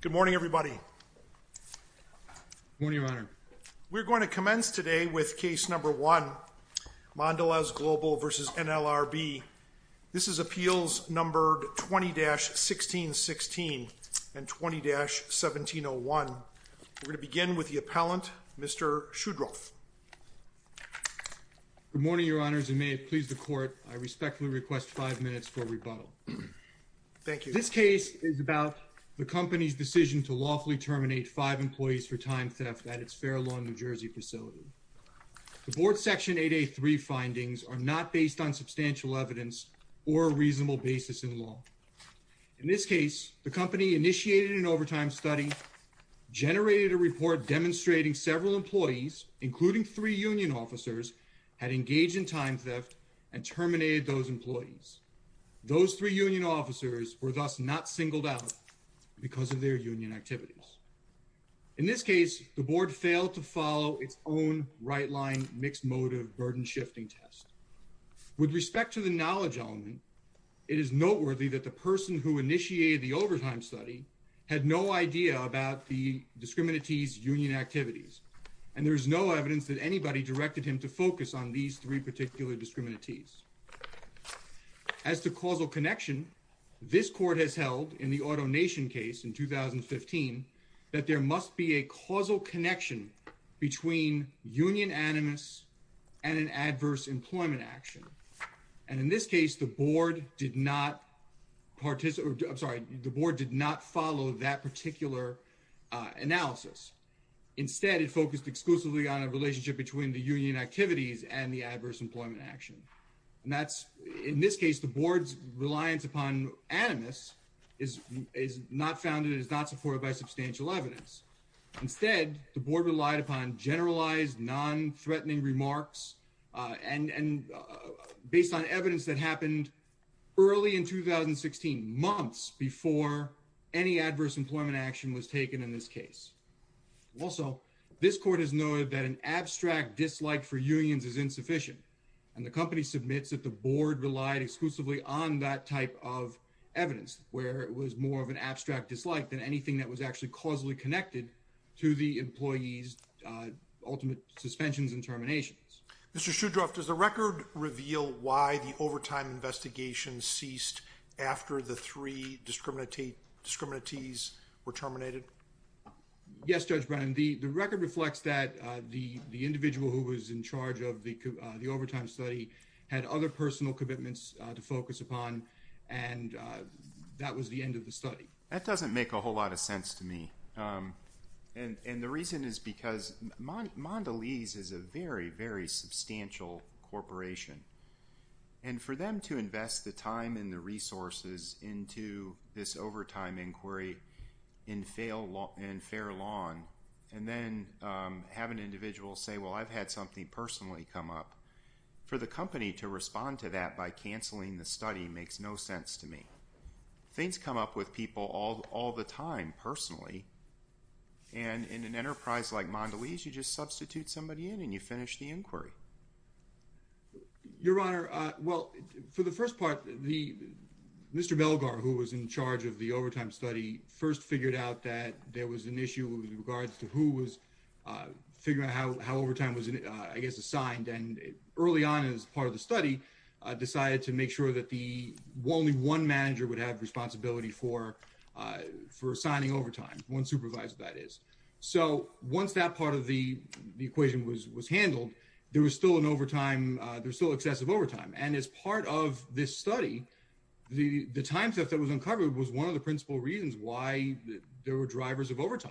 Good morning everybody. Good morning, Your Honor. We're going to commence today with case number one, Mondelez Global v. NLRB. This is appeals numbered 20-1616 and 20-1701. We're going to begin with the appellant, Mr. Shudroff. Good morning, Your Honors, and may it please the court, I respectfully request five minutes for the company's decision to lawfully terminate five employees for time theft at its Fair Lawn, New Jersey facility. The board's Section 8A3 findings are not based on substantial evidence or a reasonable basis in law. In this case, the company initiated an overtime study, generated a report demonstrating several employees, including three union officers, had engaged in time theft and terminated those employees. Those three union officers were thus not singled out. Because of their union activities. In this case, the board failed to follow its own right-line mixed motive burden shifting test. With respect to the knowledge element, it is noteworthy that the person who initiated the overtime study had no idea about the discriminatees union activities and there is no evidence that anybody directed him to focus on these three particular discriminatees. As to causal connection, this court has held in the AutoNation case in 2015, that there must be a causal connection between union animus and an adverse employment action. And in this case, the board did not participate, I'm sorry, the board did not follow that particular analysis. Instead, it focused exclusively on a relationship between the union activities and the adverse employment action. And that's, in this case, the board's reliance upon animus is not founded, is not supported by substantial evidence. Instead, the board relied upon generalized non-threatening remarks and based on evidence that happened early in 2016, months before any adverse employment action was taken in this case. Also, this court has noted that an abstract dislike for unions is insufficient. And the company submits that the board relied exclusively on that type of evidence, where it was more of an abstract dislike than anything that was actually causally connected to the employees' ultimate suspensions and terminations. Mr. Shudroff, does the record reveal why the overtime investigation ceased after the three discriminatees were terminated? Yes, Judge Brennan, the record reflects that the individual who was in charge of the overtime study had other personal commitments to focus upon, and that was the end of the study. That doesn't make a whole lot of sense to me. And the reason is because Mondelez is a very, very substantial corporation. And for them to invest the time and the resources into this overtime inquiry in fair law, and then have an individual say, well, I've had something personally come up, for the company to respond to that by cancelling the study makes no sense to me. Things come up with people all the time, personally, and in an enterprise like Mondelez, you just substitute somebody in and you finish the inquiry. Your Honor, well, for the first part, Mr. Belgar, who was in charge of the overtime study, first figured out that there was an issue with regards to who was figuring out how overtime was, I guess, assigned. And early on, as part of the study, decided to make sure that the only one manager would have responsibility for assigning overtime, one supervisor, that is. So once that part of the equation was handled, there was still an overtime, there's still excessive overtime. And as part of this study, the time theft that was uncovered was one of the principal reasons why there were drivers of with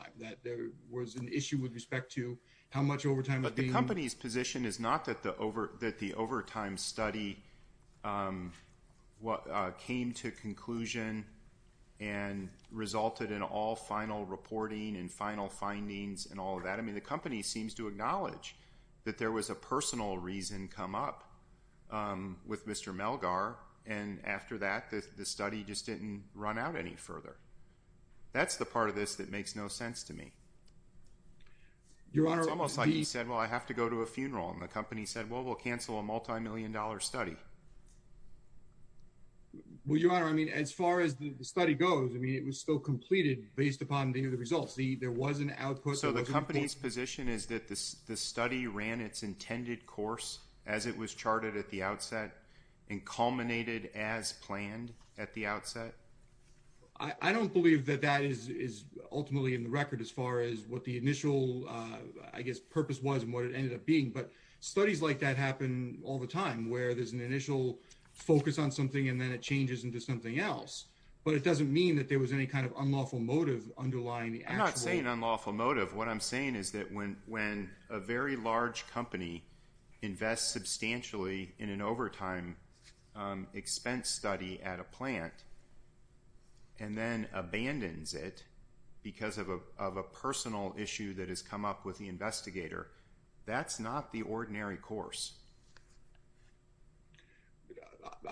respect to how much overtime was being... But the company's position is not that the overtime study came to conclusion and resulted in all final reporting and final findings and all of that. I mean, the company seems to acknowledge that there was a personal reason come up with Mr. Belgar, and after that, the study just didn't run out any further. That's the part of this that Your Honor... It's almost like he said, well, I have to go to a funeral, and the company said, well, we'll cancel a multi-million dollar study. Well, Your Honor, I mean, as far as the study goes, I mean, it was still completed based upon the results. There was an output... So the company's position is that the study ran its intended course as it was charted at the outset and culminated as planned at the outset? I don't believe that that is ultimately in the record as far as what the initial I guess purpose was and what it ended up being, but studies like that happen all the time, where there's an initial focus on something and then it changes into something else. But it doesn't mean that there was any kind of unlawful motive underlying the actual... I'm not saying unlawful motive. What I'm saying is that when a very large company invests substantially in an overtime expense study at a plant and then abandons it because of a personal issue that has come up with the investigator, that's not the ordinary course.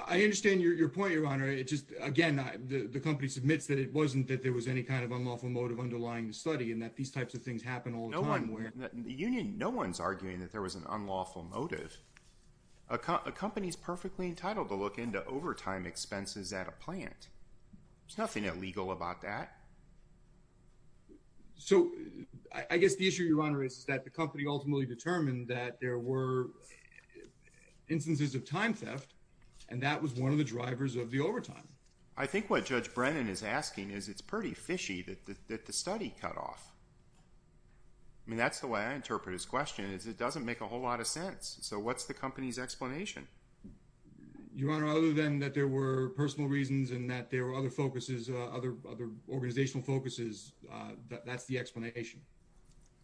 I understand your point, Your Honor. It's just, again, the company submits that it wasn't that there was any kind of unlawful motive underlying the study and that these types of things happen all the time. No one's arguing that there was an unlawful motive. A company's perfectly entitled to look into overtime expenses at a plant There's nothing illegal about that. So I guess the issue, Your Honor, is that the company ultimately determined that there were instances of time theft and that was one of the drivers of the overtime. I think what Judge Brennan is asking is it's pretty fishy that the study cut off. I mean, that's the way I interpret his question is it doesn't make a whole lot of sense. So what's the company's explanation? Your Honor, other than that there were personal reasons and that there were other focuses, other organizational focuses, that's the explanation.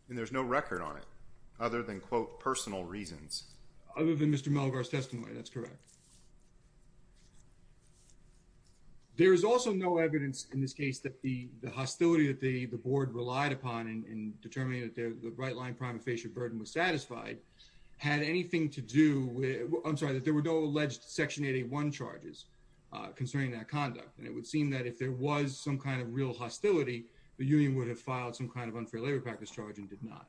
And there's no record on it other than, quote, personal reasons. Other than Mr. Malgar's testimony, that's correct. There is also no evidence in this case that the the hostility that the the board relied upon in determining that the right-line prima facie burden was satisfied had anything to do with, I'm sorry, that there were no alleged Section 881 charges concerning that conduct. And it would seem that if there was some kind of real hostility, the union would have filed some kind of unfair labor practice charge and did not.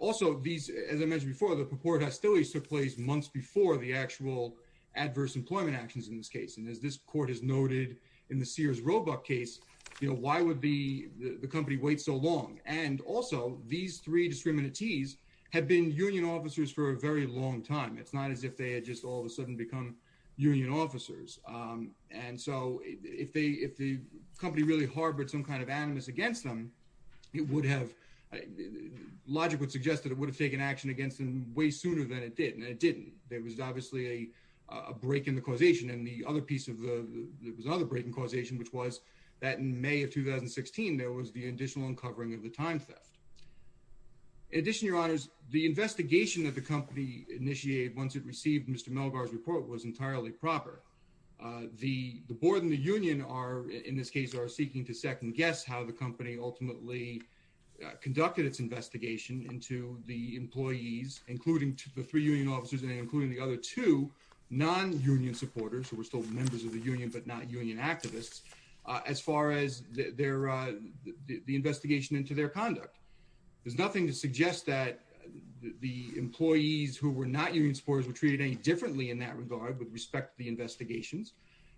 Also, these, as I mentioned before, the purported hostilities took place months before the actual adverse employment actions in this case. And as this court has noted in the Sears Roebuck case, you know, why would the the company wait so long? And also, these three discriminatees have been union officers for a very long time. It's not as if they had just all of a sudden become union officers. And so, if they, if the company really harbored some kind of animus against them, it would have, logic would suggest that it would have taken action against them way sooner than it did. And it didn't. There was obviously a break in the causation. And the other piece of the, there was another break in causation, which was that in May of 2016, there was the additional uncovering of the time theft. In addition, your honors, the investigation that the company initiated once it received Mr Melgar's report was entirely proper. Uh, the board and the union are, in this case, are seeking to second guess how the company ultimately conducted its investigation into the employees, including the three union officers and including the other two non union supporters who were still members of the union, but not union activists. As far as their, uh, the investigation into their conduct, there's nothing to suggest that the employees who were not union supporters were treated any differently in that regard. With respect to the investigations,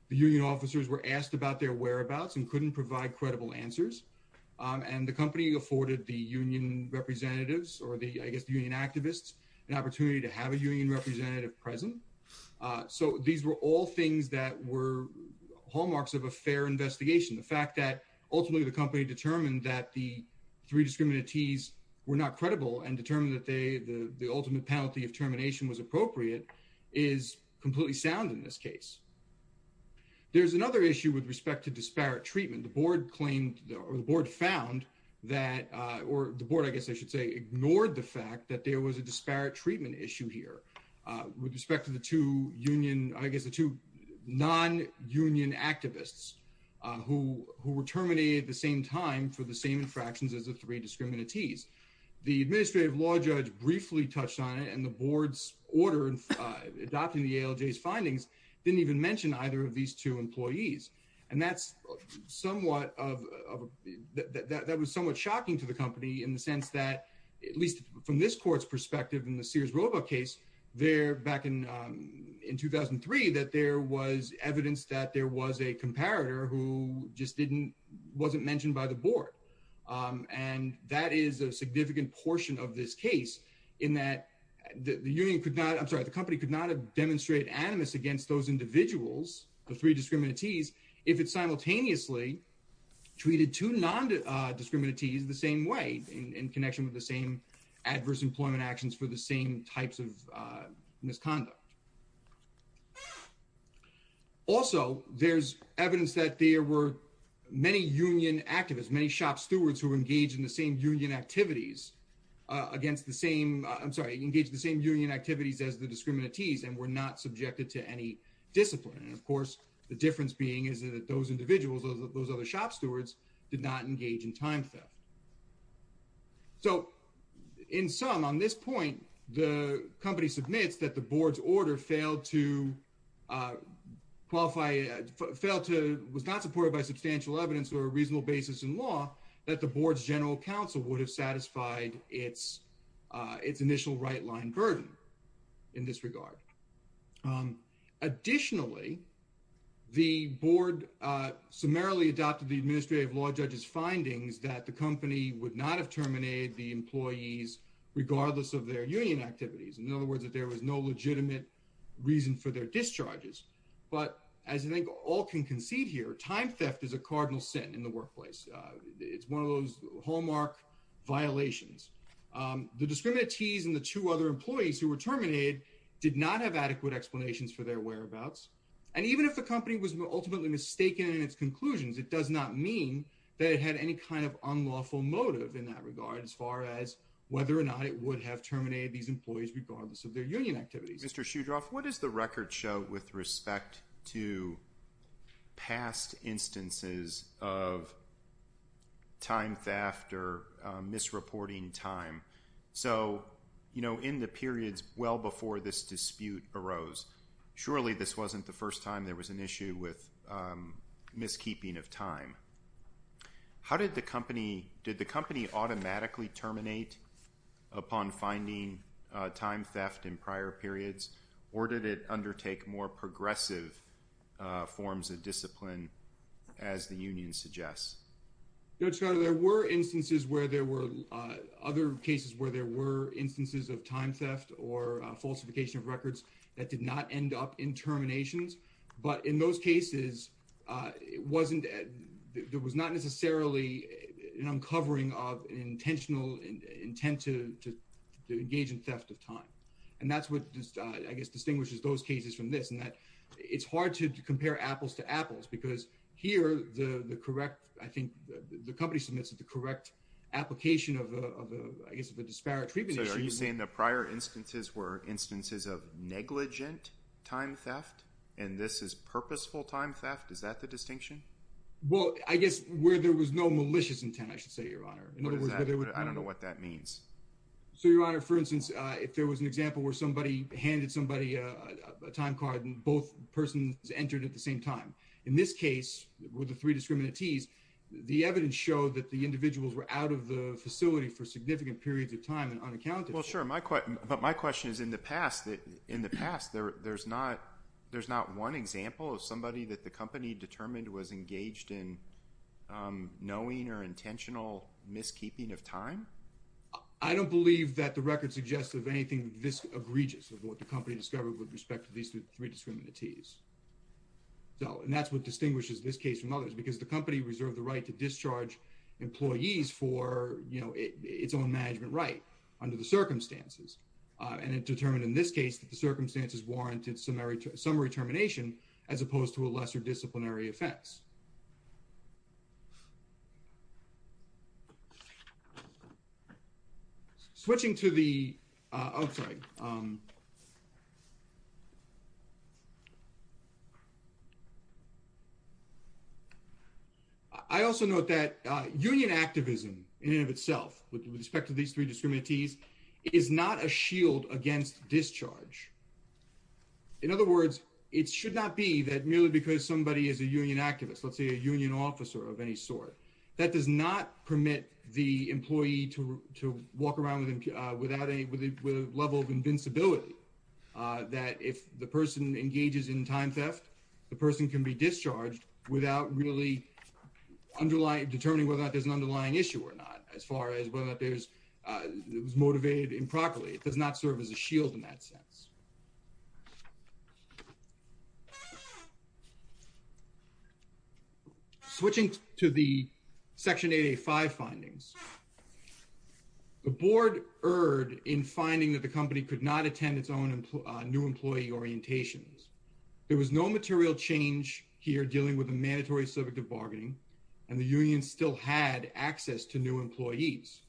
the union officers were asked about their whereabouts and couldn't provide credible answers. Um, and the company afforded the union representatives or the, I guess the union activists an opportunity to have a union representative present. Uh, so these were all things that were hallmarks of a investigation. The fact that ultimately the company determined that the three discriminative tease were not credible and determined that they the ultimate penalty of termination was appropriate is completely sound. In this case, there's another issue with respect to disparate treatment. The board claimed the board found that or the board, I guess I should say, ignored the fact that there was a disparate treatment issue here with respect to the two union activists who were terminated the same time for the same infractions as the three discriminative tease. The administrative law judge briefly touched on it, and the board's order adopting the L. J. S. Findings didn't even mention either of these two employees. And that's somewhat of that was somewhat shocking to the company in the sense that, at least from this court's perspective in the Sears robot case there back in, um, in 2003 that there was evidence that there was a comparator who just didn't wasn't mentioned by the board. Um, and that is a significant portion of this case in that the union could not. I'm sorry. The company could not have demonstrated animus against those individuals. The three discriminative tease if it's simultaneously treated to non discriminative tease the same way in connection with the same adverse employment actions for the same types of misconduct. Also, there's evidence that there were many union activists, many shop stewards who engage in the same union activities against the same. I'm sorry, engage the same union activities as the discriminative tease and we're not subjected to any discipline. And, of course, the difference being is that those individuals of those other shop stewards did not engage in time theft. So in some on this point, the company submits that the board's order failed to, uh, qualify, failed to was not supported by substantial evidence or a reasonable basis in law that the board's general counsel would have satisfied its its initial right line burden in this regard. Um, additionally, the board, uh, summarily adopted the administrative law judge's findings that the company would not have terminated the employees regardless of their union activities. In other words, that there was no legitimate reason for their discharges. But as I think all can concede here, time theft is a cardinal sin in the workplace. It's one of those hallmark violations. Um, the discriminative tease and the two other employees who were terminated did not have adequate explanations for their whereabouts. And even if the company was ultimately mistaken in its conclusions, it does not mean that it had any kind of unlawful motive in that regard, as far as whether or not it would have terminated these employees regardless of their union activities. Mr. Shoe drop. What is the record show with respect to past instances of time theft or misreporting time? So, you know, in the periods well before this dispute arose, surely this wasn't the first time there was an issue with, um, did the company automatically terminate upon finding time theft in prior periods, or did it undertake more progressive forms of discipline as the union suggests? There were instances where there were other cases where there were instances of time theft or falsification of records that did not end up in terminations. But in those cases, it wasn't there was not necessarily an uncovering of intentional intent to engage in theft of time. And that's what just, I guess, distinguishes those cases from this and that it's hard to compare apples to apples because here the correct, I think the company submits at the correct application of, I guess, the disparate treatment. Are you saying the prior instances were instances of negligent time theft, and this is purposeful time theft? Is that the distinction? Well, I there was no malicious intent, I should say, Your Honor. I don't know what that means. So, Your Honor, for instance, if there was an example where somebody handed somebody a time card and both persons entered at the same time, in this case, with the three discriminatees, the evidence showed that the individuals were out of the facility for significant periods of time and unaccounted. Well, sure, my question, but my question is, in the past, in the past, there's not, there's not one example of somebody that the company determined was engaged in knowing or intentional miskeeping of time? I don't believe that the record suggests of anything this egregious of what the company discovered with respect to these three discriminatees. So, and that's what distinguishes this case from others because the company reserved the right to discharge employees for, you know, its own management right under the circumstances. And it determined in this case that the circumstances warranted summary termination as opposed to a lesser disciplinary offense. Switching to the, I'm sorry. I also note that union activism in and of itself with respect to these three in other words, it should not be that merely because somebody is a union activist, let's say a union officer of any sort that does not permit the employee to walk around with without a level of invincibility. Uh, that if the person engages in time theft, the person can be discharged without really underlying determining whether or not there's an underlying issue or not. As far as whether there's, uh, it was motivated improperly. It does not serve as a shield in that sense. Switching to the section 8A5 findings, the board erred in finding that the company could not attend its own new employee orientations. There was no material change here dealing with a mandatory subject of bargaining and the union still had access to new employees.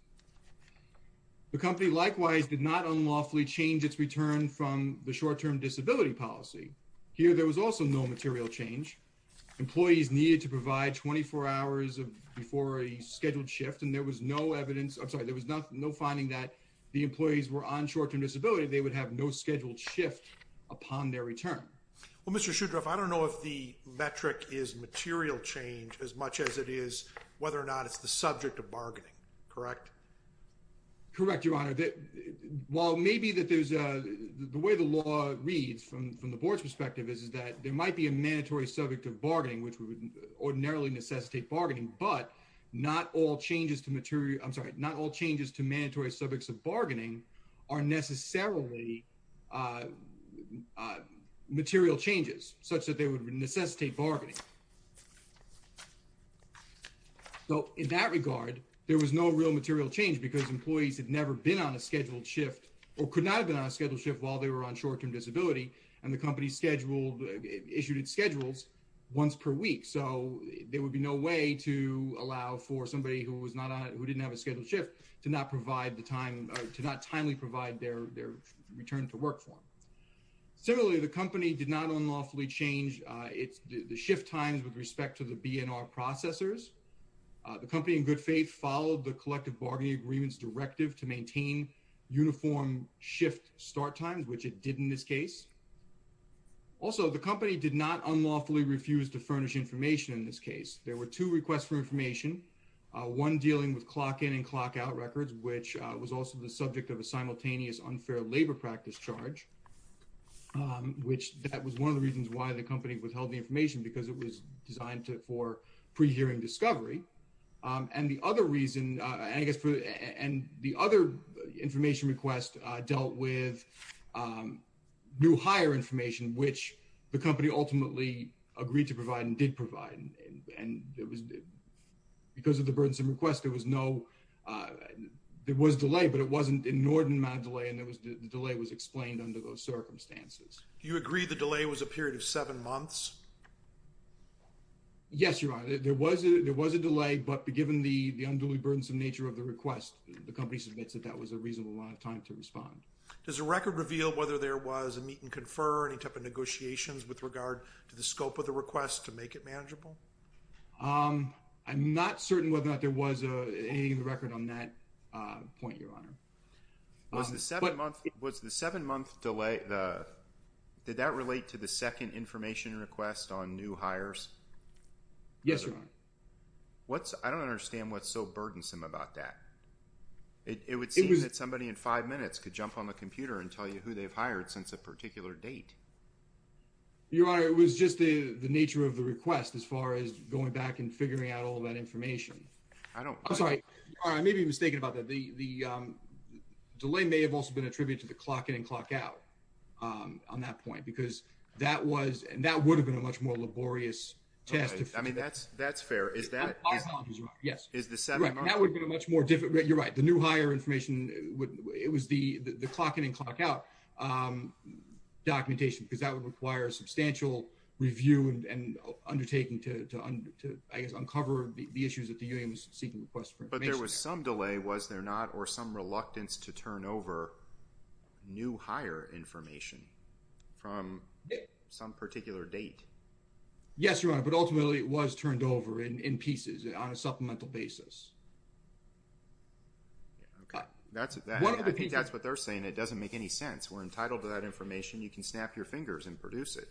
The company likewise did not unlawfully change its return from the short term disability policy. Here there was also no material change. Employees needed to provide 24 hours of before a scheduled shift and there was no evidence. I'm sorry, there was no finding that the employees were on short term disability. They would have no scheduled shift upon their return. Well, Mr Shudra, if I don't know if the metric is material change as much as it is whether or not it's the subject of bargaining. Correct. Correct. Your honor. While maybe that there's a way the law reads from from the board's perspective is that there might be a mandatory subject of bargaining, which would ordinarily necessitate bargaining, but not all changes to material. I'm sorry, not all changes to mandatory subjects of bargaining are necessarily, uh, uh, material changes such that they would material change because employees had never been on a scheduled shift or could not have been on a scheduled shift while they were on short term disability, and the company scheduled issued its schedules once per week. So there would be no way to allow for somebody who was not who didn't have a scheduled shift to not provide the time to not timely provide their return to work for him. Similarly, the company did not unlawfully change. It's the shift times with respect to the B. N. R. Processors. The company in good faith followed the collective bargaining agreements directive to maintain uniform shift start times, which it did in this case. Also, the company did not unlawfully refused to furnish information. In this case, there were two requests for information, one dealing with clock in and clock out records, which was also the subject of a simultaneous unfair labor practice charge, which that was one of the reasons why the company withheld the information because it was designed for pre hearing discovery. Um, and the other reason, I guess, and the other information request dealt with, um, new higher information, which the company ultimately agreed to provide and did provide. And because of the burdensome request, there was no, uh, there was delay, but it wasn't in Norton Mandalay. And there was the delay was explained under those circumstances. You agree the delay was a period of Yes, you're right. There was. There was a delay. But given the unduly burdensome nature of the request, the company submits that that was a reasonable amount of time to respond. Does the record reveal whether there was a meet and confer any type of negotiations with regard to the scope of the request to make it manageable? Um, I'm not certain whether or not there was a record on that point, Your Honor. Was the seven month was the seven month delay. The did that relate to the second information request on new hires? Yes, Your Honor. What's I don't understand what's so burdensome about that. It would seem that somebody in five minutes could jump on the computer and tell you who they've hired since a particular date. Your Honor, it was just the nature of the request as far as going back and figuring out all that information. I don't sorry. I may be mistaken about that. The delay may have also been attributed to the clock in and clock out on that point, because that was and that would have been a much more laborious test. I mean, that's that's fair. Is that yes, is the seven that would be much more difficult. You're right. The new hire information. It was the the clock in and clock out, um, documentation because that would require substantial review and undertaking to uncover the issues that the union was seeking requests. But there was some delay, was there not? Or some reluctance to turn over new hire information from some particular date? Yes, Your Honor. But ultimately, it was turned over in pieces on a supplemental basis. Okay, that's what I think that's what they're saying. It doesn't make any sense. We're entitled to that information. You can snap your fingers and produce it.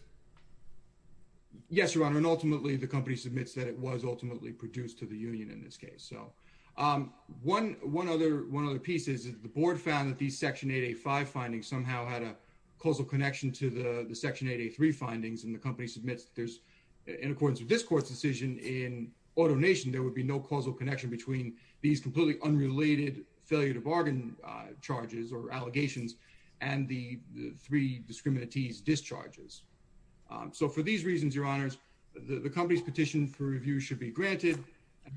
Yes, Your Honor. And ultimately, the company submits that it was ultimately produced to the union in this case. So, um, 11 other one of the pieces of the board found that these section 85 findings somehow had a causal connection to the section 83 findings in the company submits. There's in accordance with this court's decision in automation, there would be no causal connection between these completely unrelated failure to bargain charges or allegations and the three discriminatees discharges. Um, so for these reasons, your honors, the company's petition for review should be granted.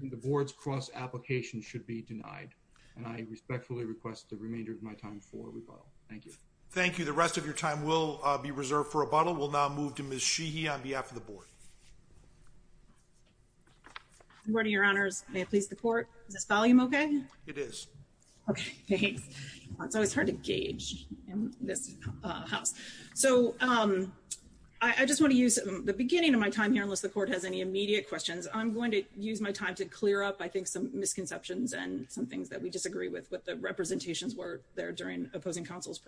The board's cross application should be denied, and I respectfully request the remainder of my time for rebuttal. Thank you. Thank you. The be reserved for a bottle will now move to Miss Sheehy on behalf of the board. What are your honors? Please? The court volume. Okay, it is. Okay, it's always hard to gauge in this house. So, um, I just want to use the beginning of my time here. Unless the court has any immediate questions, I'm going to use my time to clear up. I think some misconceptions and some things that we disagree with what the representations were there during opposing counsel's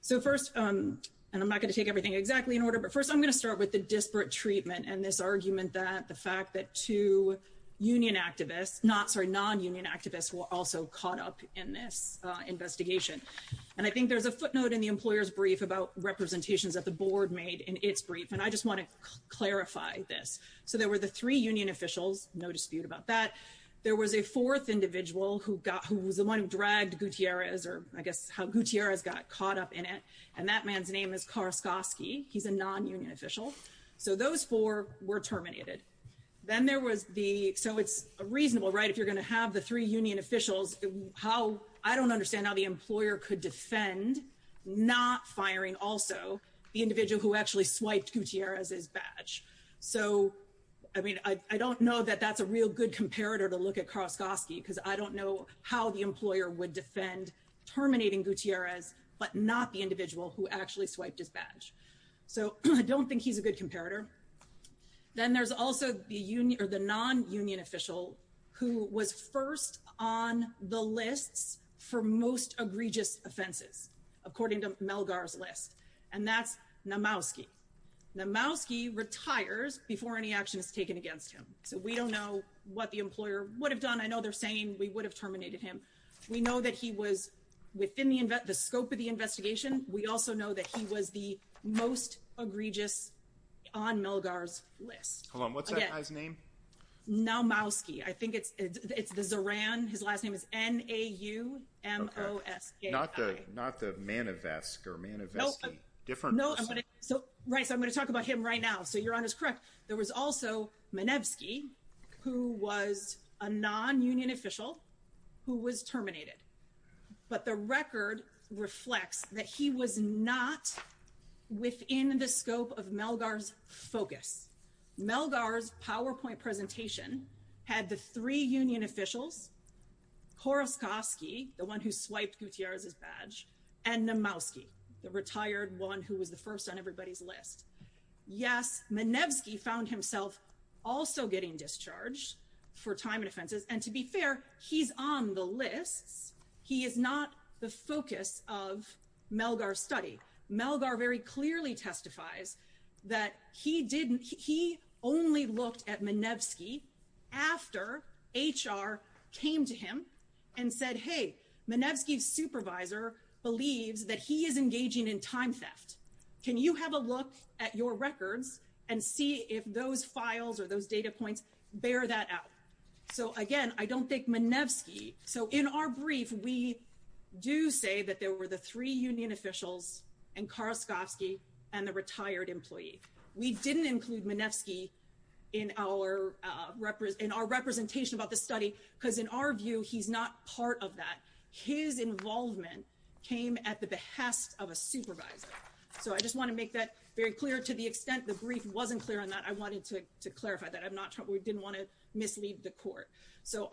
So first, um, and I'm not gonna take everything exactly in order. But first, I'm gonna start with the disparate treatment and this argument that the fact that two union activists not sorry, non union activists were also caught up in this investigation. And I think there's a footnote in the employer's brief about representations that the board made in its brief, and I just want to clarify this. So there were the three union officials. No dispute about that. There was a fourth individual who got who was the one who dragged Gutierrez or I guess how Gutierrez got caught up in it. And that man's name is Karskosky. He's a non union official. So those four were terminated. Then there was the so it's reasonable, right? If you're gonna have the three union officials how I don't understand how the employer could defend not firing also the individual who actually swiped Gutierrez his badge. So I mean, I don't know that that's a real good comparator to look at Karskosky because I don't know how the employer would defend terminating Gutierrez but not the individual who actually swiped his badge. So I don't think he's a good comparator. Then there's also the union or the non union official who was first on the lists for most egregious offenses, according to Melgar's list. And that's Namowski. Namowski retires before any action is taken against him. So we don't know what the employer would have done. I know they're saying we would have terminated him. We know that he was within the scope of the investigation. We also know that he was the most egregious on Melgar's list. Hold on, what's that guy's name? Namowski. I think it's it's the Zoran. His last name is N-A-U-M-O-S-K-I. Not the Manevsk or Manevski. No, I'm going to talk about him right now. So you're on is correct. There was also Manevski, who was a non-union official who was terminated. But the record reflects that he was not within the scope of Melgar's focus. Melgar's PowerPoint presentation had the three union officials, Koroskovski, the one who swiped Gutierrez's badge, and Namowski, the retired one who was the found himself also getting discharged for time and offenses. And to be fair, he's on the lists. He is not the focus of Melgar's study. Melgar very clearly testifies that he only looked at Manevski after HR came to him and said, hey, Manevski's supervisor believes that he is engaging in time theft. Can you have a look at your records and see if those files or those data points bear that out? So again, I don't think Manevski. So in our brief, we do say that there were the three union officials and Koroskovski and the retired employee. We didn't include Manevski in our representation about the study because in our view, he's not part of that. His involvement came at the behest of a supervisor. So I just want to make that very clear. To the extent the brief wasn't clear on that, I wanted to clarify that. We didn't want to mislead the court. So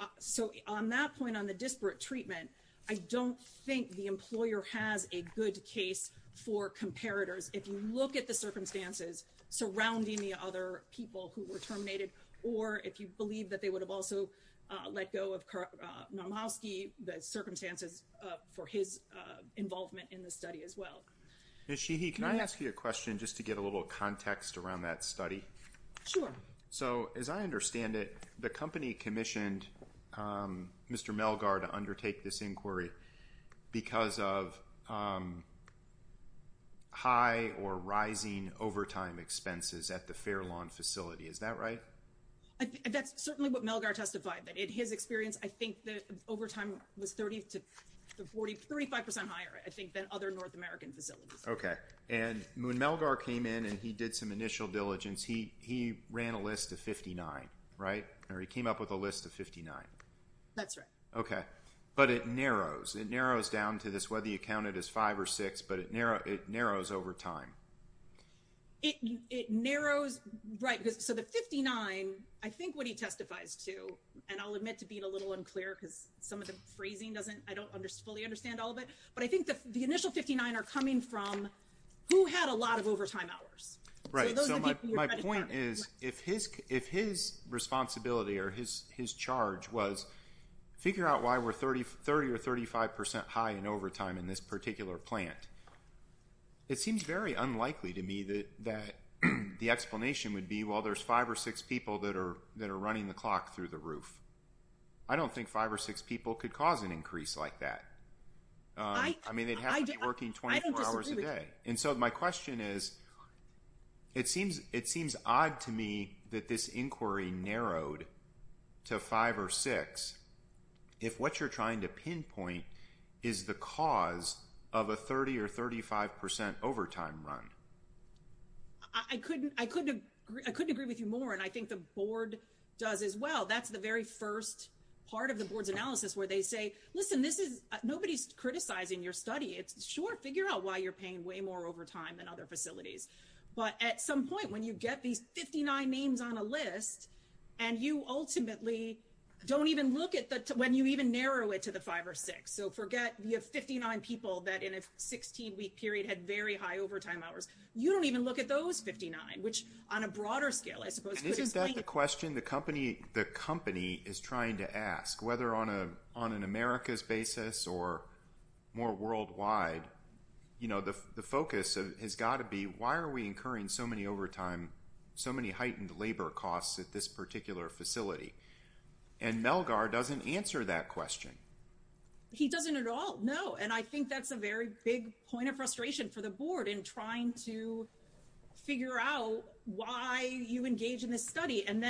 on that point, on the disparate treatment, I don't think the employer has a good case for comparators. If you look at the circumstances surrounding the other people who were terminated, or if you believe that they would have also let go of Manevski, the circumstances for his involvement in the study as well. Ms. Sheehy, can I ask you a question just to get a little context around that study? Sure. So as I understand it, the company commissioned Mr. Melgar to undertake this inquiry because of the high or rising overtime expenses at the Fair Lawn facility. Is that right? That's certainly what Melgar testified. In his experience, I think that overtime was 30 to 35% higher, I think, than other North American facilities. Okay. And when Melgar came in and he did some initial diligence, he ran a list of 59, right? Or he came up with a list of 59. That's right. But it narrows. It narrows down to this, whether you count it as five or six, but it narrows over time. It narrows, right. So the 59, I think what he testifies to, and I'll admit to being a little unclear because some of the phrasing doesn't, I don't fully understand all of it, but I think the initial 59 are coming from who had a lot of overtime hours. Right. So my point is, if his responsibility or his charge was figure out why we're 30 or 35% high in overtime in this particular plant, it seems very unlikely to me that the explanation would be, well, there's five or six people that are running the clock through the roof. I don't think five or six people could cause an increase like that. I mean, they'd have to be working 24 hours a day. And so my question is, it seems odd to me that this inquiry narrowed to five or six, if what you're trying to pinpoint is the cause of a 30 or 35% overtime run. I couldn't agree with you more. And I think the board does as well. That's the very first part of the board's analysis where they say, listen, nobody's criticizing your study. It's sure, figure out why you're paying way more overtime than other facilities. But at some point when you get these 59 names on a list, and you ultimately don't even look at that, when you even narrow it to the five or six, so forget you have 59 people that in a 16 week period had very high overtime hours. You don't even look at those 59, which on a broader scale, I suppose, isn't that the question the company, the company is trying to ask whether on a, on an America's basis or more worldwide, the focus has got to be why are we incurring so many overtime, so many heightened labor costs at this particular facility? And Melgar doesn't answer that question. He doesn't at all. No. And I think that's a very big point of frustration for the board in trying to figure out why you engage in this study. And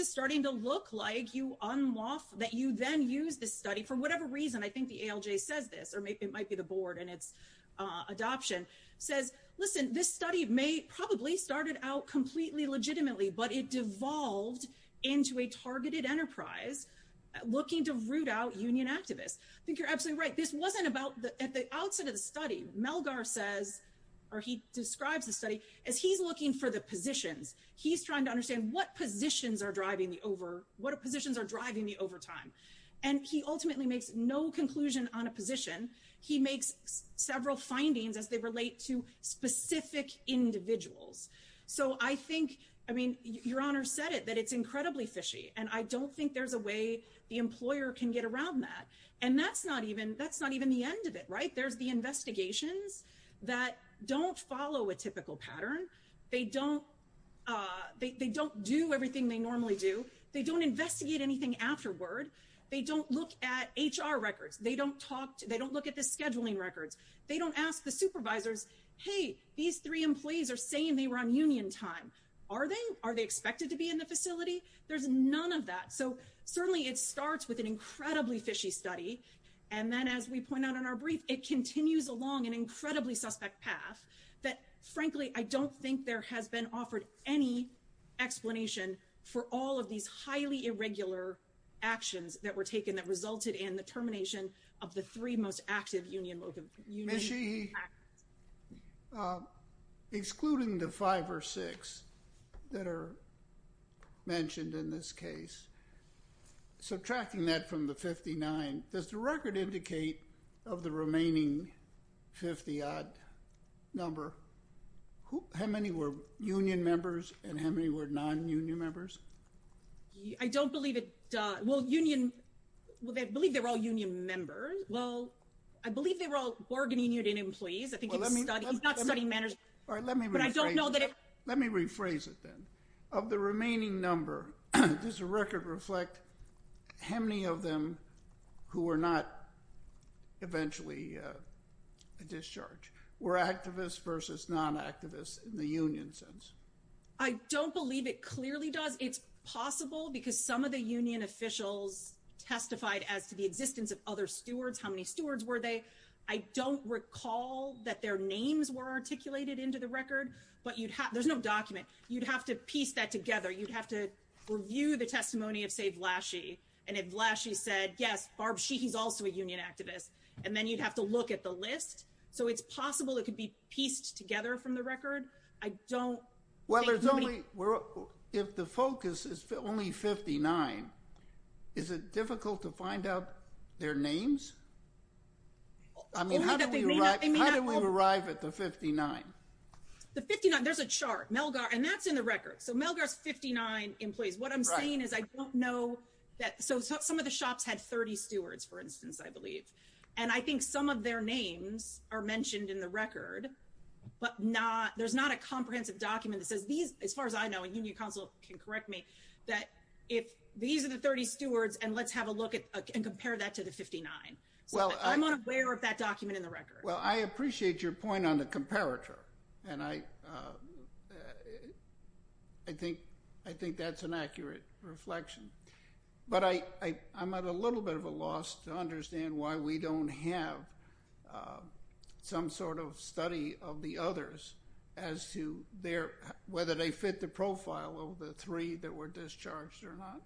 it's starting to look like you unlof, that you then use this study for whatever reason, I think the ALJ says this, or maybe it might be the board and it's adoption says, listen, this study may probably started out completely legitimately, but it devolved into a targeted enterprise looking to root out union activists. I think you're absolutely right. This wasn't about the, at the outset of the study, Melgar says, or he describes the study as he's looking for positions. He's trying to understand what positions are driving the over, what positions are driving the overtime. And he ultimately makes no conclusion on a position. He makes several findings as they relate to specific individuals. So I think, I mean, your honor said it, that it's incredibly fishy. And I don't think there's a way the employer can get around that. And that's not even, that's not even the end of it, right? There's the investigations that don't follow a typical pattern. They don't, they don't do everything they normally do. They don't investigate anything afterward. They don't look at HR records. They don't talk to, they don't look at the scheduling records. They don't ask the supervisors, hey, these three employees are saying they were on union time. Are they, are they expected to be in the facility? There's none of that. So certainly it starts with an incredibly fishy study. And then as we point out in our brief, it continues along an incredibly suspect path that, frankly, I don't think there has been offered any explanation for all of these highly irregular actions that were taken that resulted in the termination of the three most active union, union- Ms. Sheehy, excluding the five or six that are mentioned in this case, subtracting that from the 59, does the record indicate of the remaining 50-odd number, how many were union members and how many were non-union members? I don't believe it, well, union, well, I believe they were all union members. Well, I believe they were all Borg Union employees. I think he's not studying management. All right, let me rephrase it then. Of the remaining number, does the record reflect how many of them who were not eventually discharged were activists versus non-activists in the union sense? I don't believe it clearly does. It's possible because some of the union officials testified as to the existence of other stewards. How many stewards were they? I don't recall that their names were articulated into the record, but you'd have, there's no document. You'd have to piece that together. You'd have to review the testimony of, say, Vlachy, and if Vlachy said, yes, Barb Sheehy's also a union activist, and then you'd have to look at the list. So it's possible it could be pieced together from the record. I don't think- Well, there's only, if the focus is only 59, is it difficult to find out their names? I mean, how did we arrive at the 59? The 59, there's a chart, Melgar, and that's in the record. So Melgar's 59 employees. What I'm saying is I don't know that, so some of the shops had 30 stewards, for instance, I believe. And I think some of their names are mentioned in the record, but not, there's not a comprehensive document that says these, as far as I know, and union counsel can correct me, that if these are the 30 stewards, and let's have a look at, and compare that to the 59. So I'm unaware of that and I think that's an accurate reflection. But I'm at a little bit of a loss to understand why we don't have some sort of study of the others as to whether they fit the profile of the three that were discharged or not.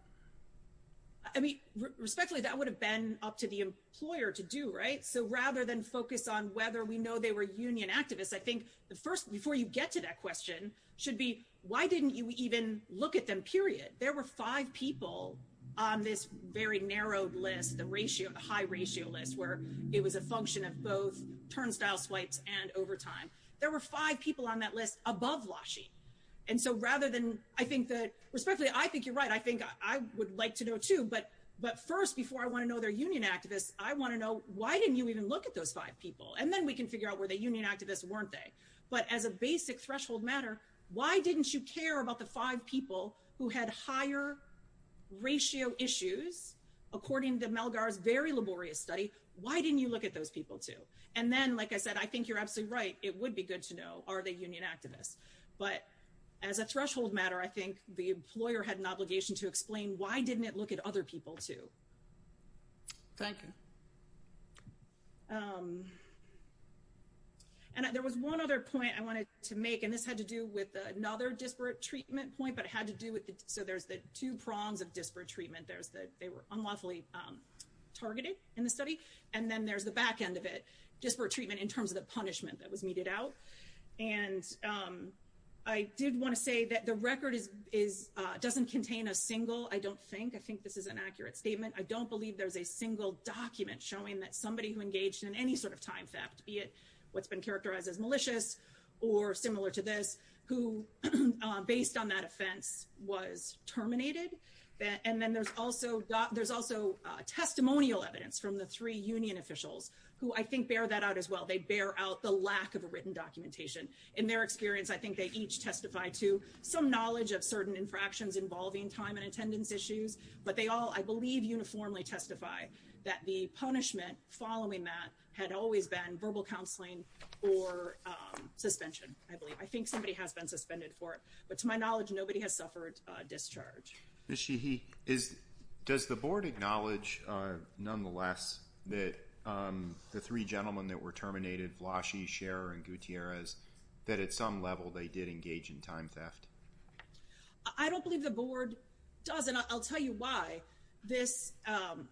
I mean, respectfully, that would have been up to the employer to do, so rather than focus on whether we know they were union activists, I think the first, before you get to that question, should be, why didn't you even look at them, period? There were five people on this very narrowed list, the ratio, the high ratio list, where it was a function of both turnstile swipes and overtime. There were five people on that list above Lashi. And so rather than, I think that, respectfully, I think you're right, I think I would like to know too, but first, before I want to know they're union activists, I want to know, why didn't you even look at those five people? And then we can figure out were they union activists, weren't they? But as a basic threshold matter, why didn't you care about the five people who had higher ratio issues, according to Melgar's very laborious study, why didn't you look at those people too? And then, like I said, I think you're absolutely right, it would be good to know, are they union activists? But as a threshold matter, I think the employer had an obligation to explain why didn't it look at other people too. Thank you. And there was one other point I wanted to make, and this had to do with another disparate treatment point, but it had to do with, so there's the two prongs of disparate treatment, there's the, they were unlawfully targeted in the study, and then there's the back end of it, disparate treatment in terms of the punishment that was meted out. And I did want to say that the record doesn't contain a single, I don't think, I think this is an accurate statement, I don't believe there's a single document showing that somebody who engaged in any sort of time theft, be it what's been characterized as malicious, or similar to this, who, based on that offense, was terminated. And then there's also testimonial evidence from the three union officials, who I think bear that out as well, they bear out the lack of written documentation. In their experience, I think they each testify to some knowledge of certain infractions involving time and attendance issues, but they all, I believe, uniformly testify that the punishment following that had always been verbal counseling or suspension, I believe. I think somebody has been suspended for it, but to my knowledge, nobody has suffered discharge. Ms. Sheehy, does the board acknowledge, nonetheless, that the three gentlemen that were terminated, Vlashe, Scherer, and Gutierrez, that at some level they did engage in time theft? I don't believe the board does, and I'll tell you why. This,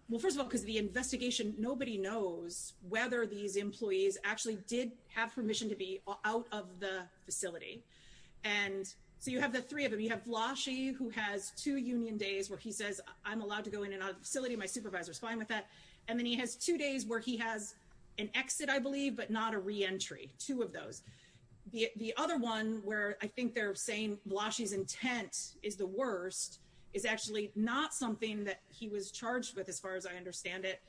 well, first of all, because the investigation, nobody knows whether these employees actually did have permission to be out of the facility. And so you have the three of them, you have Vlashe, who has two union days where he says, I'm allowed to go in and out of the facility, my supervisor's fine with that. And then he has two days where he has an exit, I believe, but not a reentry, two of those. The other one where I think they're saying Vlashe's intent is the worst is actually not something that he was charged with, as far as I understand it.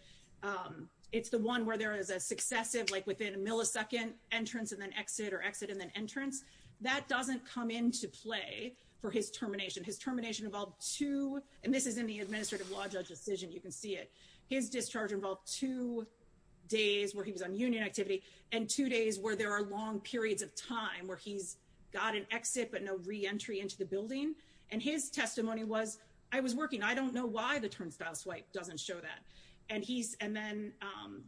It's the one where there is a successive, like within a millisecond, entrance and then exit or exit and then entrance. That doesn't come into play for his termination. His termination involved two, and this is in the charge, involved two days where he was on union activity and two days where there are long periods of time where he's got an exit but no reentry into the building. And his testimony was, I was working, I don't know why the turnstile swipe doesn't show that. And he's, and then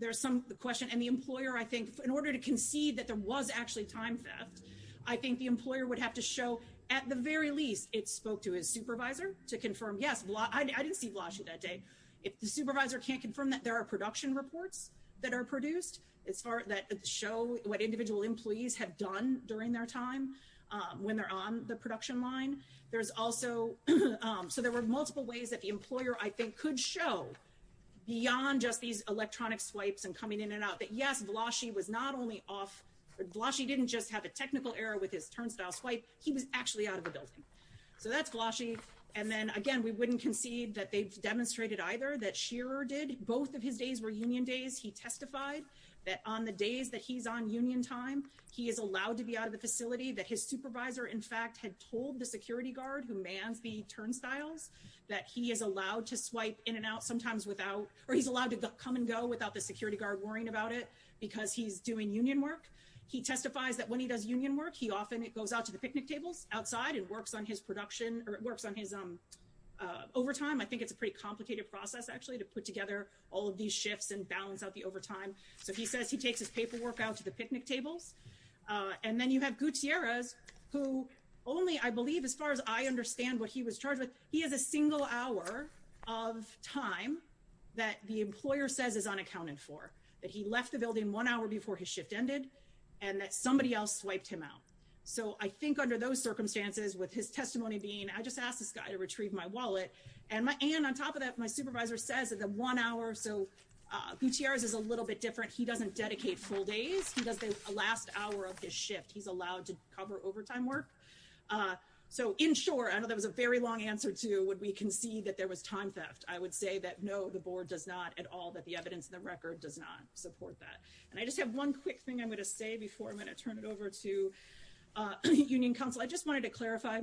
there's some, the question, and the employer, I think, in order to concede that there was actually time theft, I think the employer would have to show, at the very least, it spoke to his supervisor to confirm that there are production reports that are produced that show what individual employees have done during their time when they're on the production line. There's also, so there were multiple ways that the employer, I think, could show beyond just these electronic swipes and coming in and out that, yes, Vlashe was not only off, Vlashe didn't just have a technical error with his turnstile swipe, he was actually out of the building. So that's Vlashe. And then, again, we wouldn't concede that they've demonstrated either that Shearer did. Both of his days were union days. He testified that on the days that he's on union time, he is allowed to be out of the facility, that his supervisor, in fact, had told the security guard who mans the turnstiles that he is allowed to swipe in and out sometimes without, or he's allowed to come and go without the security guard worrying about it because he's doing union work. He testifies that when he does union work, he often goes out to the picnic tables outside and works on his production, or works on his overtime. I think it's a pretty complicated process, actually, to put together all of these shifts and balance out the overtime. So he says he takes his paperwork out to the picnic tables. And then you have Gutierrez, who only, I believe, as far as I understand what he was charged with, he has a single hour of time that the employer says is unaccounted for, that he left the building one hour before his shift ended, and that somebody else swiped him out. So I think under those circumstances, with his testimony being, I just asked this guy to retrieve my wallet, and on top of that, my supervisor says that the one hour, so Gutierrez is a little bit different. He doesn't dedicate full days. He does the last hour of his shift. He's allowed to cover overtime work. So in short, I know that was a very long answer to would we concede that there was time theft. I would say that no, the board does not at all, that the evidence in the record does not support that. And I just have one quick thing I'm going to say before I'm going to turn it over to Union Council. I just wanted to clarify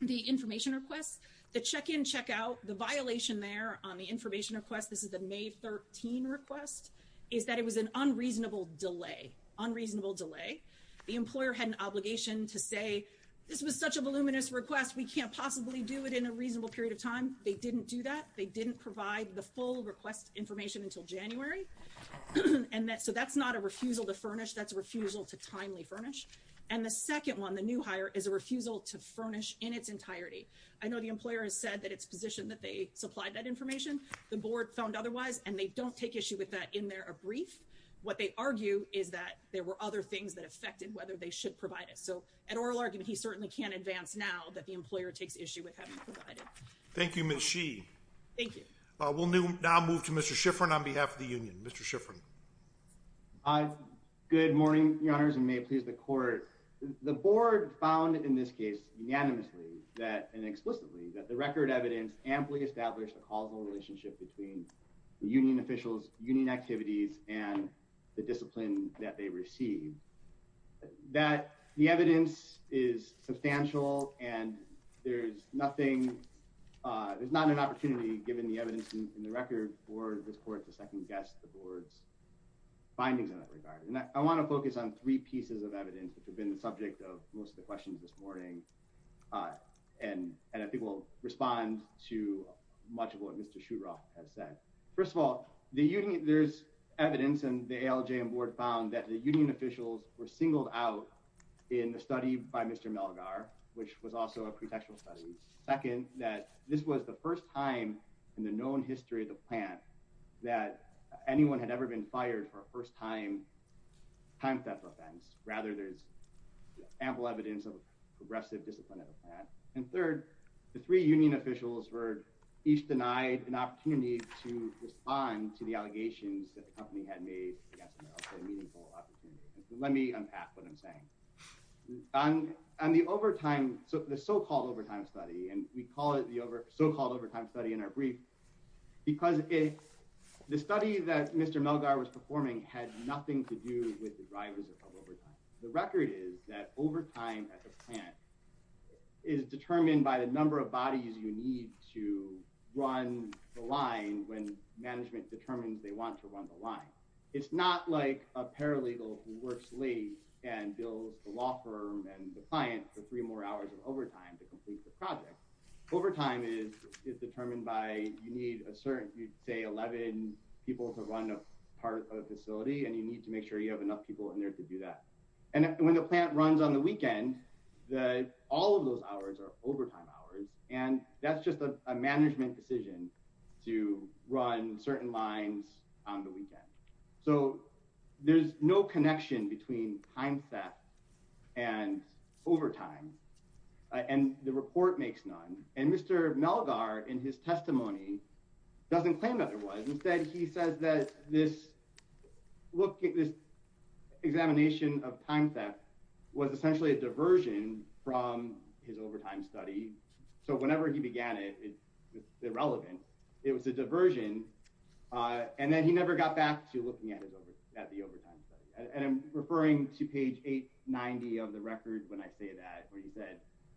the information requests. The check-in, check-out, the violation there on the information request, this is the May 13 request, is that it was an unreasonable delay. Unreasonable delay. The employer had an obligation to say this was such a voluminous request, we can't possibly do it in a reasonable period of time. They didn't do that. They didn't provide the full request information until January. And so that's not a refusal to timely furnish. And the second one, the new hire, is a refusal to furnish in its entirety. I know the employer has said that it's positioned that they supplied that information. The board found otherwise and they don't take issue with that in their brief. What they argue is that there were other things that affected whether they should provide it. So an oral argument, he certainly can't advance now that the employer takes issue with having provided. Thank you, Ms. Sheehy. Thank you. We'll now move to Mr. Schifrin on behalf of the union. Mr. Schifrin. Hi. Good morning, your honors, and may it please the court. The board found in this case unanimously that and explicitly that the record evidence amply established a causal relationship between the union officials, union activities, and the discipline that they receive. That the evidence is substantial and there's nothing, there's not an opportunity given the evidence in the record for this court to second guess the board's findings in that regard. And I want to focus on three pieces of evidence which have been the subject of most of the questions this morning and I think will respond to much of what Mr. Shuroff has said. First of all, the union, there's evidence and the ALJ and board found that the union officials were singled out in a study by Mr. Melgar, which was also a pretextual study. Second, that this was the first time in the history of the plant that anyone had ever been fired for a first-time time theft offense. Rather, there's ample evidence of progressive discipline at the plant. And third, the three union officials were each denied an opportunity to respond to the allegations that the company had made. Let me unpack what I'm saying. On the overtime, so the so-called overtime study, and we call it so-called overtime study in our brief, because the study that Mr. Melgar was performing had nothing to do with the drivers of overtime. The record is that overtime at the plant is determined by the number of bodies you need to run the line when management determines they want to run the line. It's not like a paralegal who works late and bills the law firm and the is determined by you need a certain, you'd say 11 people to run a part of a facility, and you need to make sure you have enough people in there to do that. And when the plant runs on the weekend, all of those hours are overtime hours, and that's just a management decision to run certain lines on the weekend. So there's no connection between time theft and overtime, and the report makes none. And Mr. Melgar in his testimony doesn't claim that there was. Instead, he says that this examination of time theft was essentially a diversion from his overtime study. So whenever he began it, it was irrelevant. It was a diversion, and then he never got back to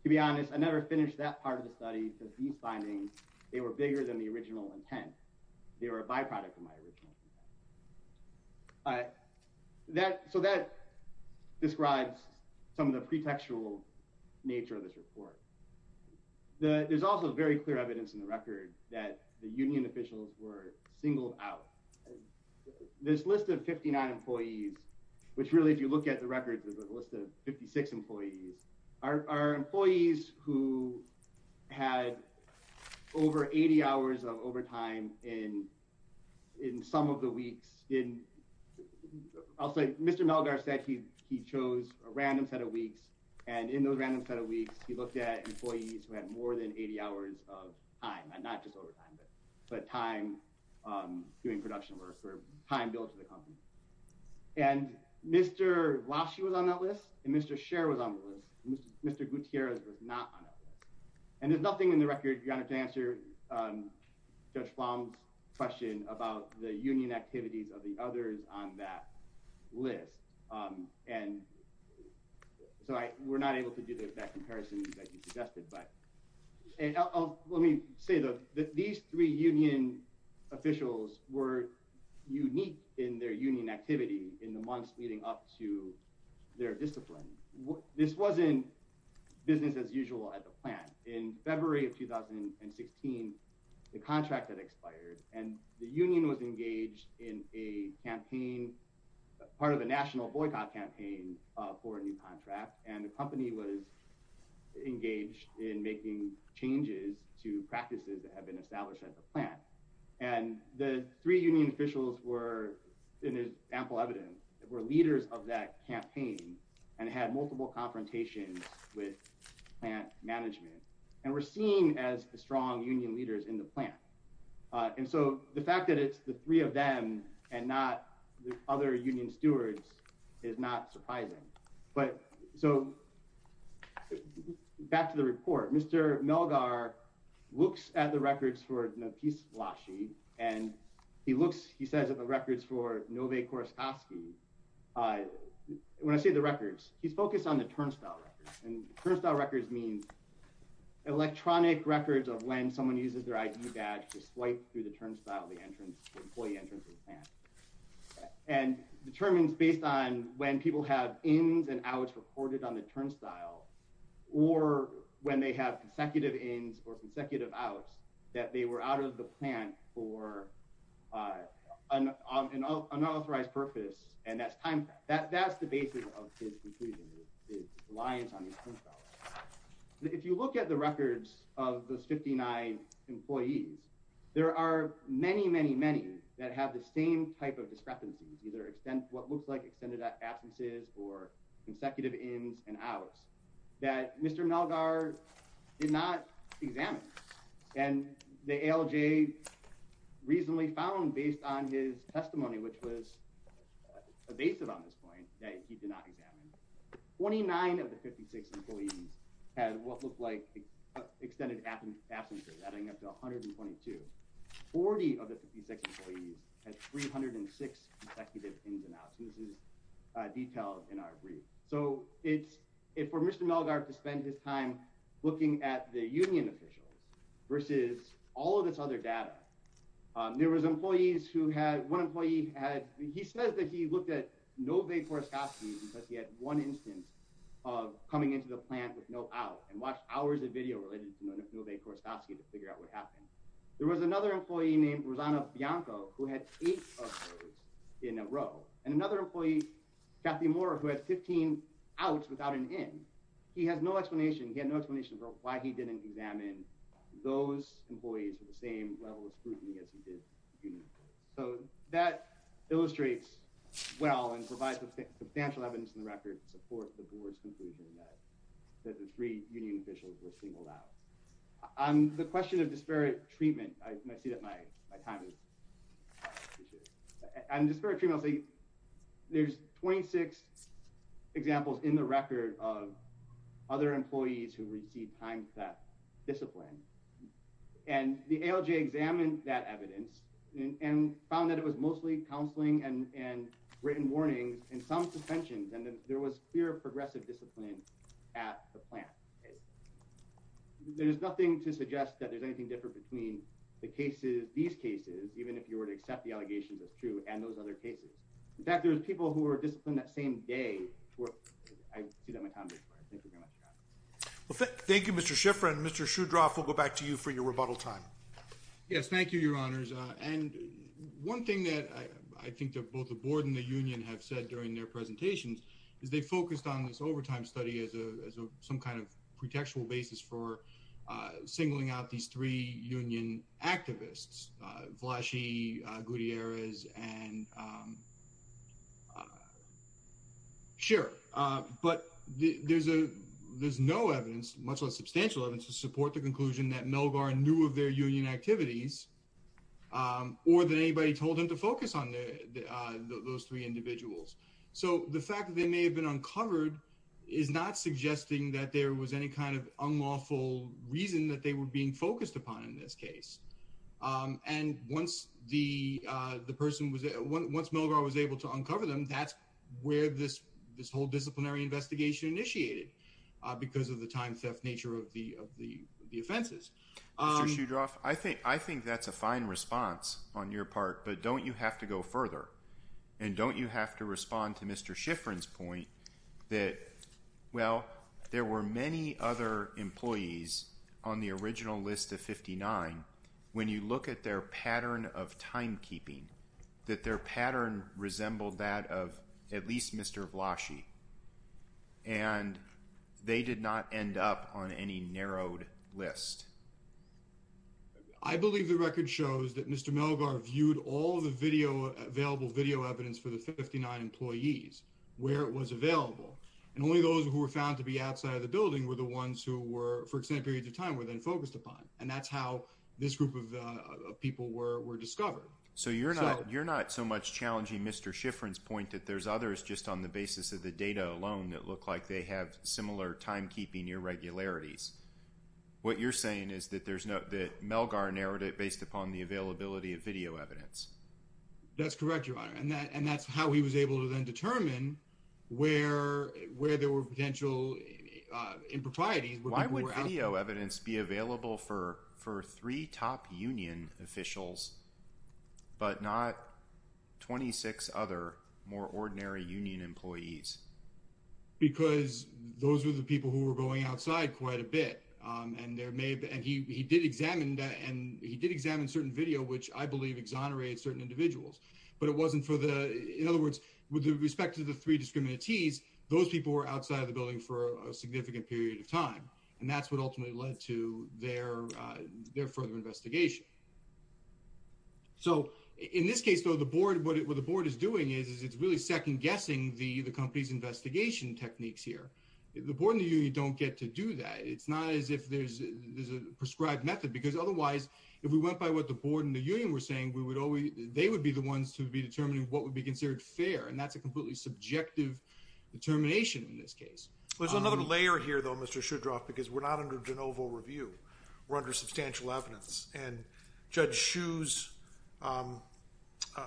be honest, I never finished that part of the study because these findings, they were bigger than the original intent. They were a byproduct of my original intent. So that describes some of the pretextual nature of this report. There's also very clear evidence in the record that the union officials were singled out. This list of 59 employees, which really, if you look at the records, is a list of 56 employees, are employees who had over 80 hours of overtime in some of the weeks. I'll say Mr. Melgar said he chose a random set of weeks, and in those random set of weeks, he looked at employees who had more than 80 hours of time, and not just overtime, but time doing production work or time built to the company. Mr. Vlasche was on that list, and Mr. Sher was on the list. Mr. Gutierrez was not on that list. And there's nothing in the record, Your Honor, to answer Judge Flom's question about the union activities of the others on that list. So we're not able to do that comparison that you suggested. And let me say that these three union officials were unique in their union activity in the months leading up to their discipline. This wasn't business as usual at the plant. In February of 2016, the contract had expired, and the union was engaged in a campaign, part of a national boycott campaign for a new contract, and the company was engaged in making changes to practices that have been established at the plant. And the three union officials were, in ample evidence, were leaders of that campaign and had multiple confrontations with plant management and were seen as strong union leaders in the plant. And so the fact that it's the three of them and not surprising. But so back to the report. Mr. Melgar looks at the records for Nafis Vlasche, and he looks, he says, at the records for Nové Korostovsky. When I say the records, he's focused on the turnstile records. And turnstile records means electronic records of when someone uses their ID badge to swipe through the turnstile at the employee entrance of the plant. And determines based on when people have ins and outs recorded on the turnstile, or when they have consecutive ins or consecutive outs, that they were out of the plant for unauthorized purpose, and that's time, that's the basis of his conclusion, his reliance on the turnstile. If you look at the records of those 59 employees, there are many, many that have the same type of discrepancies, either what looks like extended absences or consecutive ins and outs that Mr. Melgar did not examine. And the ALJ reasonably found based on his testimony, which was evasive on this point, that he did not examine. 29 of the 56 employees had what looked like extended absences, adding up to 122. 40 of the 56 employees had 306 consecutive ins and outs, and this is detailed in our brief. So it's, for Mr. Melgar to spend his time looking at the union officials versus all of this other data, there was employees who had, one employee had, he says that he looked at Nové Korostovsky because he had one instance of coming into the office and watched hours of video related to Nové Korostovsky to figure out what happened. There was another employee named Rosanna Bianco who had eight of those in a row, and another employee, Kathy Moore, who had 15 outs without an in. He has no explanation, he had no explanation for why he didn't examine those employees for the same level of scrutiny as he did the union. So that illustrates well and provides substantial evidence in the record to support the board's conclusion that the three union officials were singled out. On the question of disparate treatment, I see that my time is up, I appreciate it. On disparate treatment, I'll say there's 26 examples in the record of other employees who received time for that discipline, and the ALJ examined that evidence and found that it was mostly counseling and written warnings and some suspensions, and there was clear progressive discipline at the plant. There's nothing to suggest that there's anything different between the cases, these cases, even if you were to accept the allegations as true, and those other cases. In fact, there's people who were disciplined that same day for, I see that my time is expired, thank you very much. Well, thank you, Mr. Shiffrin. Mr. Shudroff, we'll go back to you for your rebuttal time. Yes, thank you, your honors, and one thing that I think that both the board and the union have said during their presentations is they focused on this overtime study as a some kind of pretextual basis for singling out these three union activists, Vlashe, Gutierrez, and Scherer, but there's no evidence, much less substantial evidence, to support the conclusion that Melgar knew of their union activities, or that anybody told him to focus on those three individuals. So the fact that they may have been uncovered is not suggesting that there was any kind of unlawful reason that they were being focused upon in this case, and once the person was, once Melgar was able to uncover them, that's where this whole disciplinary investigation initiated, because of the time theft nature of the offenses. Mr. Shudroff, I think that's a fine response on your part, but don't you have to go further, and don't you have to respond to Mr. Shiffrin's point that, well, there were many other employees on the original list of 59, when you look at their pattern of timekeeping, that their pattern resembled that of at least Mr. Vlashe, and they did not end up on any narrowed list? I believe the record shows that Mr. Melgar viewed all the video available video evidence for the 59 employees where it was available, and only those who were found to be outside of the building were the ones who were, for extended periods of time, were then focused upon, and that's how this group of people were discovered. So you're not so much challenging Mr. Shiffrin's point that there's others just on the basis of the data alone that look like they have similar timekeeping irregularities. What you're saying is that Melgar narrowed it based upon the availability of video evidence. That's correct, Your Honor, and that's how he was able to then determine where there were potential improprieties. Why would video evidence be available for the 59 employees? Because those were the people who were going outside quite a bit, and he did examine certain video, which I believe exonerated certain individuals, but it wasn't for the, in other words, with respect to the three discriminatees, those people were outside of the building for a significant period of time, and that's what ultimately led to their further investigation. So in this case, though, the board, what the board is doing is it's really second-guessing the company's investigation techniques here. The board and the union don't get to do that. It's not as if there's a prescribed method, because otherwise, if we went by what the board and the union were saying, we would always, they would be the ones to be determining what would be considered fair, and that's a completely subjective determination in this case. There's another layer here, though, Mr. Shudroff, because we're not under de novo review. We're under substantial evidence, and Judge Schuh's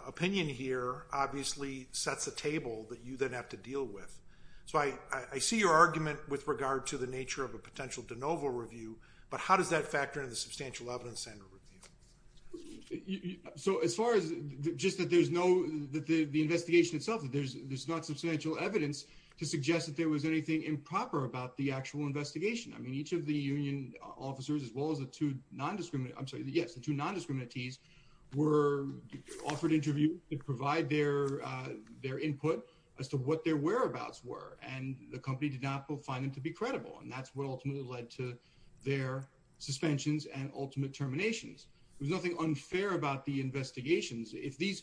opinion here obviously sets a table that you then have to deal with. So I see your argument with regard to the nature of a potential de novo review, but how does that factor in the substantial evidence and review? So as far as just that there's no, that the investigation itself, that there's not substantial evidence to suggest that there was anything improper about the actual investigation. I mean, each of the union officers, as well as the two non-discriminate, I'm sorry, yes, the two non-discriminatees were offered interviews to provide their input as to what their whereabouts were, and the company did not find them to be credible, and that's what ultimately led to their suspensions and ultimate terminations. There's nothing unfair about the investigations. If these,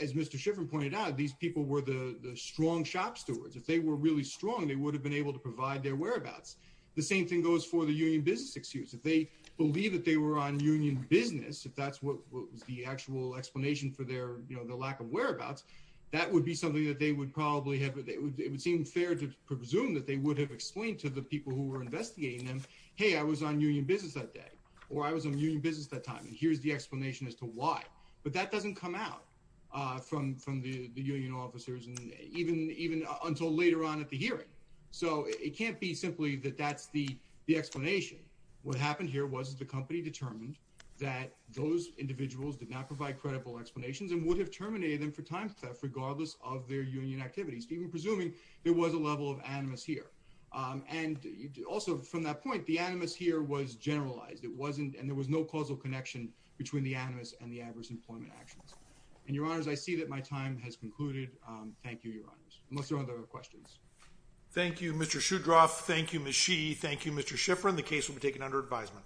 as Mr. Shiffrin pointed out, these people were the strong shop stewards. If they were really strong, they would have been able to provide their whereabouts. The same thing goes for the union business excuse. If they believe that they were on union business, if that's what was the actual explanation for their, you know, the lack of whereabouts, that would be something that they would probably have, it would seem fair to presume that they would have explained to the people who were investigating them, hey, I was on union business that day, or I was on union business that time, and here's the explanation as to why. But that doesn't come out from the union officers, and even until later on at the hearing. So it can't be simply that that's the explanation. What happened here was the company determined that those individuals did not provide credible explanations and would have terminated them for time theft regardless of their union activities, even presuming there was a level of animus here. And also from that point, the animus here was generalized. It wasn't, and there was no causal connection between the animus and the adverse employment actions. And your honors, I see that my time has concluded. Thank you, your honors. Unless there are other questions. Thank you, Mr. Shudroff. Thank you, Ms. Shih. Thank you, Mr. Shiffrin. The case will be taken under advisement.